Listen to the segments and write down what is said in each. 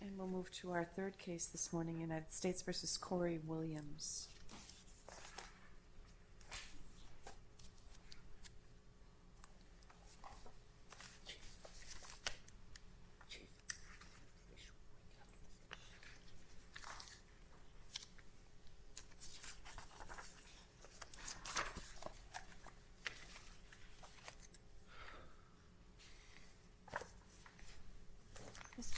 And we'll move to our third case this morning, United States v. Cory Williams.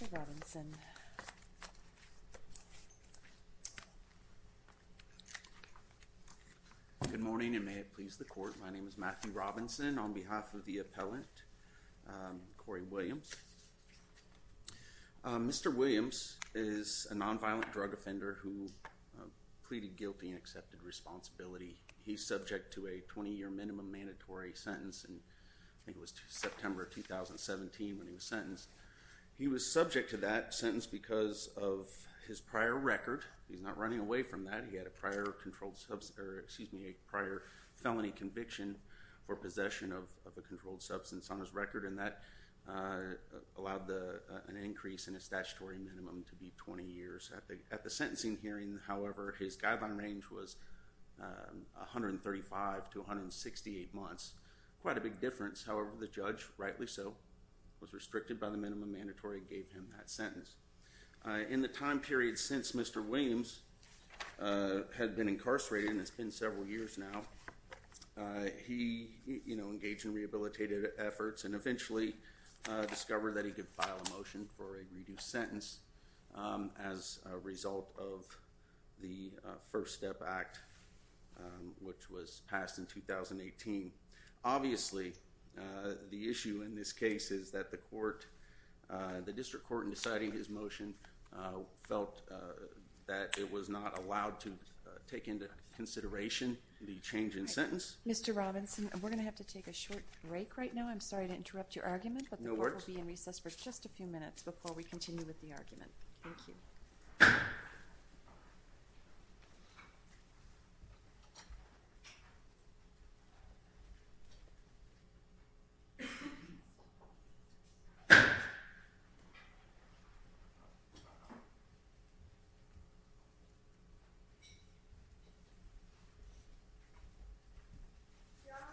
Mr. Robinson Good morning and may it please the court, my name is Matthew Robinson on behalf of the appellant, Cory Williams. Mr. Williams is a non-violent drug offender who pleaded guilty and accepted responsibility. He's subject to a 20-year minimum mandatory sentence in September 2017 when he was sentenced. He was subject to that sentence because of his prior record, he's not running away from that, he had a prior felony conviction for possession of a controlled substance on his record and that allowed an increase in his statutory minimum to be 20 years. At the sentencing hearing, however, his guideline range was 135 to 168 months, quite a big difference. However, the judge, rightly so, was restricted by the minimum mandatory and gave him that sentence. In the time period since Mr. Williams had been incarcerated, and it's been several years now, he, you know, engaged in rehabilitative efforts and eventually discovered that he could file a motion for a reduced sentence as a result of the First Step Act, which was passed in 2018. Obviously, the issue in this case is that the court, the district court, in deciding his motion felt that it was not allowed to take into consideration the change in sentence. Mr. Robinson, we're going to have to take a short break right now, I'm sorry to interrupt your argument, but the court will be in recess for just a few minutes before we continue with the argument. Thank you. Your Honor,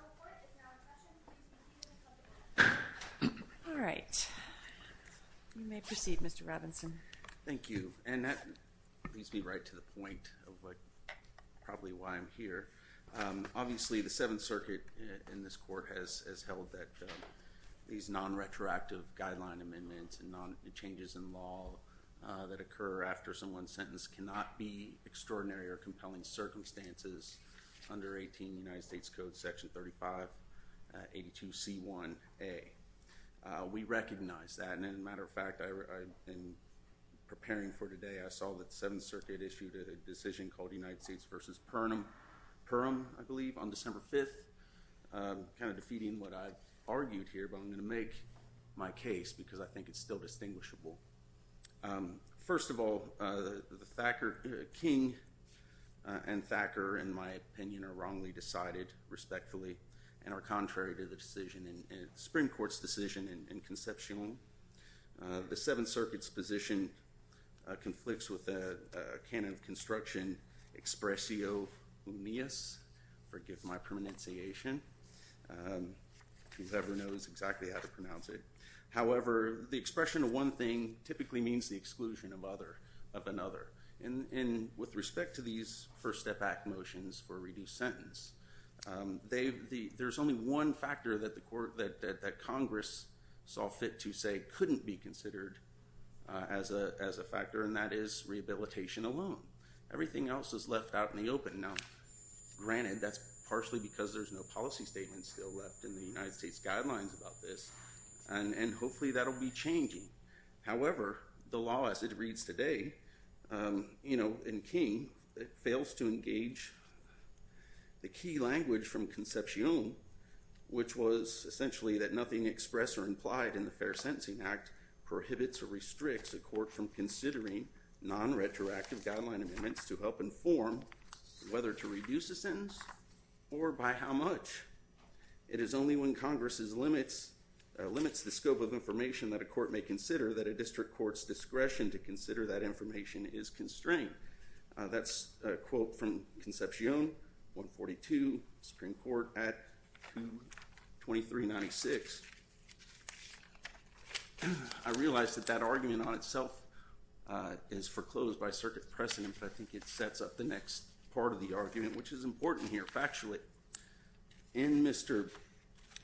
the court is now in session, please continue with public comment. All right. You may proceed, Mr. Robinson. Thank you. And that leads me right to the point of what, probably why I'm here. Obviously, the Seventh Circuit in this court has held that these non-retroactive guideline amendments and changes in law that occur after someone's sentence cannot be extraordinary or compelling circumstances under 18 United States Code Section 3582C1A. We recognize that, and as a matter of fact, in preparing for today, I saw that the Seventh Circuit, I believe, on December 5th, kind of defeating what I've argued here, but I'm going to make my case, because I think it's still distinguishable. First of all, King and Thacker, in my opinion, are wrongly decided, respectfully, and are contrary to the decision, the Supreme Court's decision in Concepcion. The Seventh Circuit's position conflicts with the canon of construction, expressio unias, forgive my pronunciation, whoever knows exactly how to pronounce it. However, the expression of one thing typically means the exclusion of another, and with respect to these First Step Act motions for reduced sentence, there's only one factor that Congress saw fit to say couldn't be considered as a factor, and that is rehabilitation alone. Everything else is left out in the open. Now, granted, that's partially because there's no policy statement still left in the United States guidelines about this, and hopefully that'll be changing. However, the law as it reads today, you know, in King, it fails to engage the key language from Concepcion, which was essentially that nothing expressed or implied in the Fair Sentencing Act prohibits or restricts a court from considering non-retroactive guideline amendments to help inform whether to reduce a sentence or by how much. It is only when Congress limits the scope of information that a court may consider that a district court's discretion to consider that information is constrained. That's a quote from Concepcion, 142, Supreme Court Act 2396. I realize that that argument on itself is foreclosed by circuit precedent, but I think it sets up the next part of the argument, which is important here. Factually, in Mr.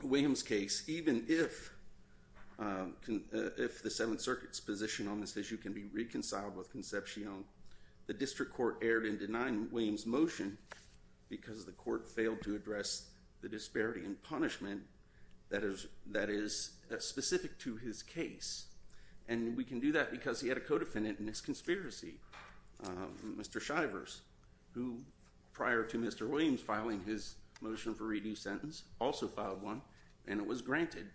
Williams' case, even if the Seventh Circuit's position on this issue can be reconciled with Concepcion, the district court erred in denying Williams' motion because the court failed to address the disparity in punishment that is specific to his case. And we can do that because he had a co-defendant in this conspiracy, Mr. Shivers, who prior to Mr. Williams filing his motion for re-due sentence also filed one, and it was granted.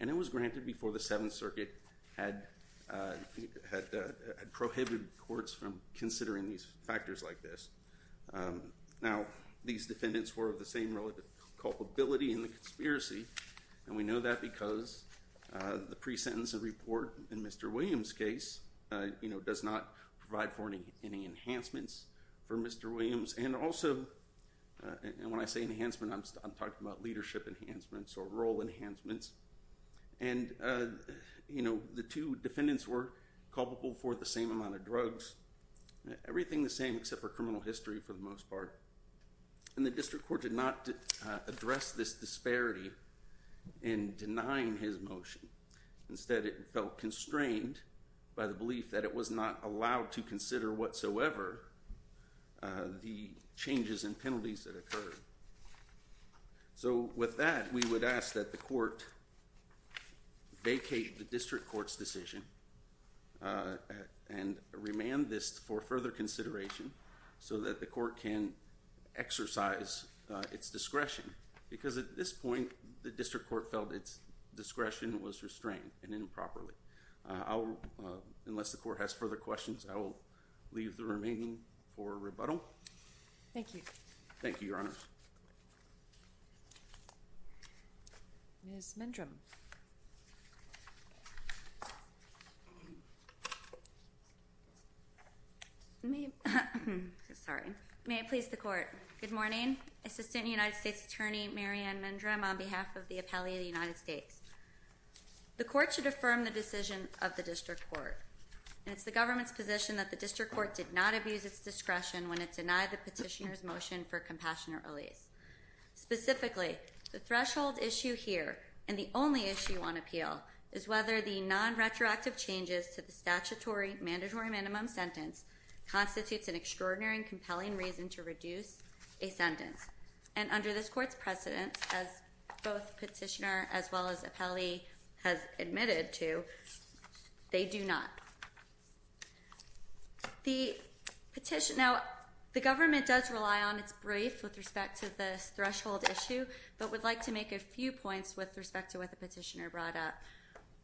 It was granted before the Seventh Circuit had prohibited courts from considering these factors like this. Now, these defendants were of the same culpability in the conspiracy, and we know that because the pre-sentence report in Mr. Williams' case does not provide for any enhancements for Mr. Williams. And also, when I say enhancement, I'm talking about leadership enhancements or role enhancements. And, you know, the two defendants were culpable for the same amount of drugs, everything the same except for criminal history for the most part. And the district court did not address this disparity in denying his motion. Instead, it felt constrained by the belief that it was not allowed to consider whatsoever the changes in penalties that occurred. So with that, we would ask that the court vacate the district court's decision and remand this for further consideration so that the court can exercise its discretion. Because at this point, the district court felt its discretion was restrained and improperly. Unless the court has further questions, I will leave the remaining for rebuttal. Thank you. Thank you, Your Honor. Ms. Mindrem. May I please the court? Good morning. Assistant United States Attorney Marianne Mindrem on behalf of the Appellee of the United States. The court should affirm the decision of the district court. And it's the government's position that the district court did not abuse its discretion when it denied the petitioner's motion for compassionate release. Specifically, the threshold issue here and the only issue on appeal is whether the non-retroactive changes to the statutory mandatory minimum sentence constitutes an extraordinary and compelling reason to reduce a sentence. And under this court's precedent, as both petitioner as well as appellee has admitted to, they do not. Now, the government does rely on its brief with respect to this threshold issue, but would like to make a few points with respect to what the petitioner brought up.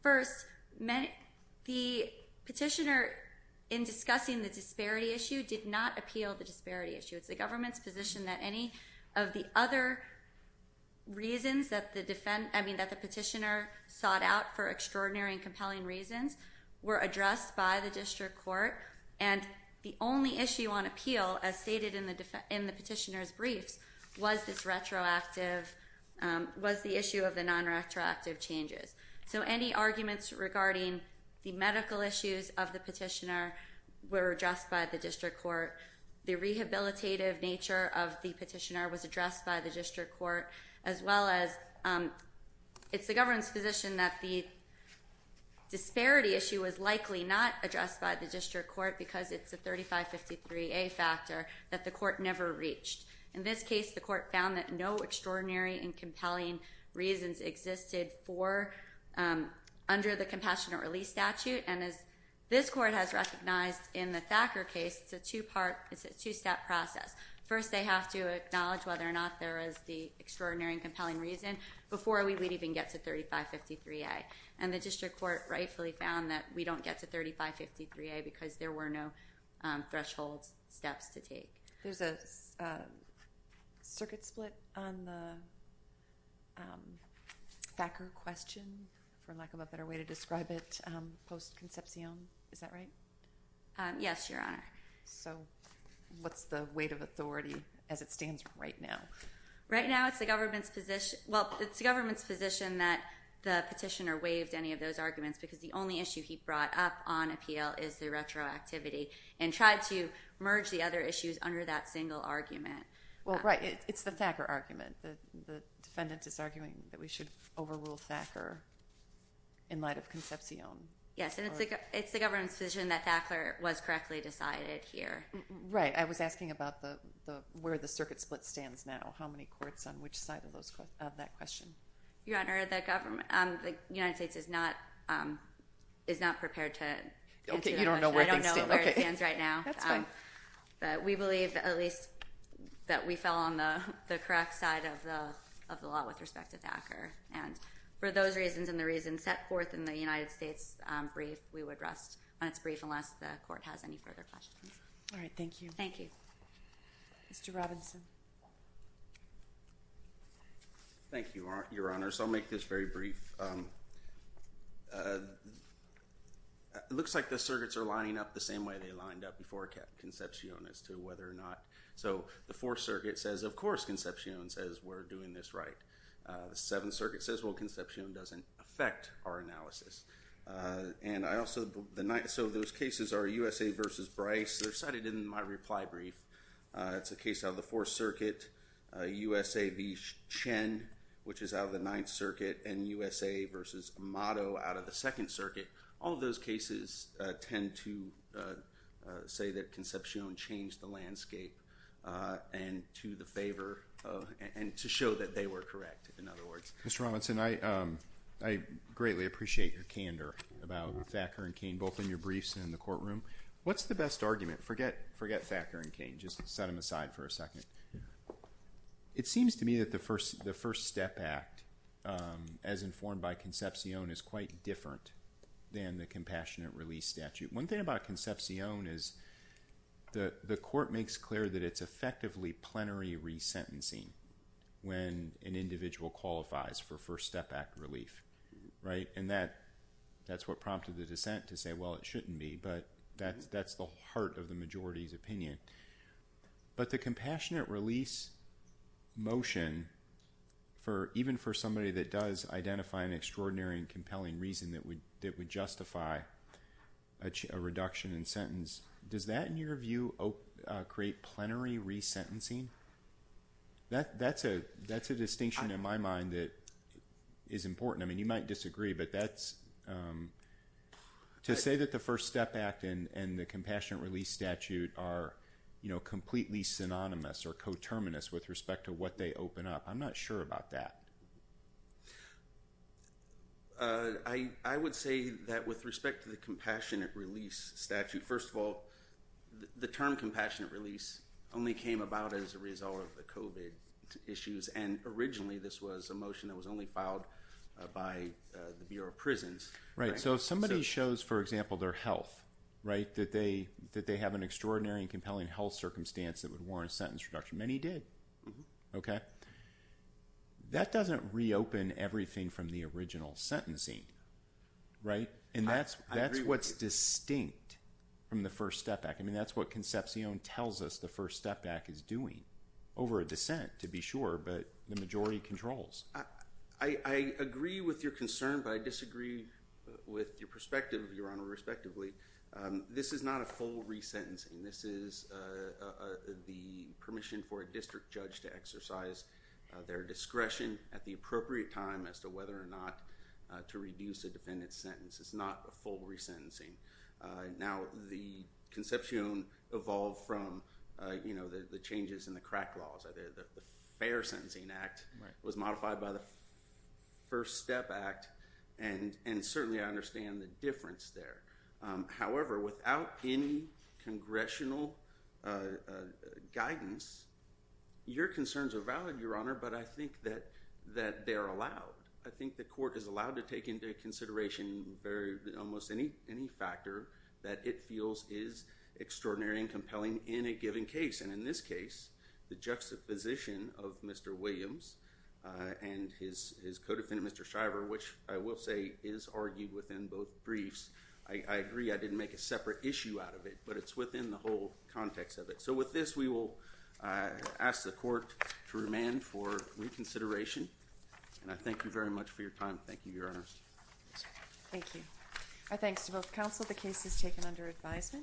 First, the petitioner in discussing the disparity issue did not appeal the disparity issue. It's the government's position that any of the other reasons that the petitioner sought out for extraordinary and compelling reasons were addressed by the district court. And the only issue on appeal, as stated in the petitioner's briefs, was the issue of the non-retroactive changes. So any arguments regarding the medical issues of the petitioner were addressed by the district court. The rehabilitative nature of the petitioner was addressed by the district court, as well as it's the government's position that the disparity issue was likely not addressed by the district court because it's a 3553A factor that the court never reached. In this case, the court found that no extraordinary and compelling reasons existed for under the compassionate release statute. And as this court has recognized in the Thacker case, it's a two-step process. First, they have to acknowledge whether or not there is the extraordinary and compelling reason before we would even get to 3553A. And the district court rightfully found that we don't get to 3553A because there were no threshold steps to take. There's a circuit split on the Thacker question, for lack of a better way to describe it, post concepcion. Is that right? Yes, Your Honor. So what's the weight of authority as it stands right now? Right now, it's the government's position that the petitioner waived any of those arguments because the only issue he brought up on appeal is the retroactivity and tried to merge the other issues under that single argument. Well, right. It's the Thacker argument. The defendant is arguing that we should overrule Thacker in light of concepcion. Yes, and it's the government's position that Thacker was correctly decided here. Right. I was asking about where the circuit split stands now. How many courts on which side of that question? Your Honor, the United States is not prepared to answer that question. I don't know where it stands right now. That's fine. But we believe, at least, that we fell on the correct side of the law with respect to Thacker. And for those reasons and the reasons set forth in the United States brief, we would rest on its brief unless the court has any further questions. All right. Thank you. Thank you. Mr. Robinson. Thank you, Your Honor. So I'll make this very brief. It looks like the circuits are lining up the same way they lined up before concepcion as to whether or not. So the Fourth Circuit says, of course, concepcion says we're doing this right. The Seventh Circuit says, well, concepcion doesn't affect our analysis. So those cases are USA v. Bryce. They're cited in my reply brief. It's a case out of the Fourth Circuit, USA v. Chen, which is out of the Ninth Circuit, and USA v. Amato out of the Second Circuit. All of those cases tend to say that concepcion changed the landscape to show that they were correct, in other words. Mr. Robinson, I greatly appreciate your candor about Thacker and Cain, both in your briefs and in the courtroom. What's the best argument? Forget Thacker and Cain. Just set them aside for a second. It seems to me that the First Step Act, as informed by concepcion, is quite different than the Compassionate Release Statute. One thing about concepcion is the court makes clear that it's effectively plenary resentencing when an individual qualifies for First Step Act relief. And that's what prompted the dissent to say, well, it shouldn't be. But that's the heart of the majority's opinion. But the Compassionate Release motion, even for somebody that does identify an extraordinary and compelling reason that would justify a reduction in sentence, does that, in your That's a distinction in my mind that is important. I mean, you might disagree, but to say that the First Step Act and the Compassionate Release Statute are completely synonymous or coterminous with respect to what they open up, I'm not sure about that. I would say that with respect to the Compassionate Release Statute, first of all, the term COVID issues. And originally, this was a motion that was only filed by the Bureau of Prisons. Right. So if somebody shows, for example, their health, right, that they have an extraordinary and compelling health circumstance that would warrant a sentence reduction. Many did. Okay. That doesn't reopen everything from the original sentencing. Right. And that's what's distinct from the First Step Act. I mean, that's what Concepcion tells us the First Step Act is doing. Over a dissent, to be sure, but the majority controls. I agree with your concern, but I disagree with your perspective, Your Honor, respectively. This is not a full resentencing. This is the permission for a district judge to exercise their discretion at the appropriate time as to whether or not to reduce a defendant's sentence. It's not a full resentencing. Now, the Concepcion evolved from, you know, the changes in the crack laws. The Fair Sentencing Act was modified by the First Step Act, and certainly I understand the difference there. However, without any congressional guidance, your concerns are valid, Your Honor, but I think that they're allowed. I think the court is allowed to take into consideration almost any factor that it feels is extraordinary and compelling in a given case, and in this case, the juxtaposition of Mr. Williams and his co-defendant, Mr. Shriver, which I will say is argued within both briefs. I agree I didn't make a separate issue out of it, but it's within the whole context of it. So with this, we will ask the court to remain for reconsideration, and I thank you very much for your time. Thank you, Your Honors. Thank you. Our thanks to both counsel. The case is taken under advisement.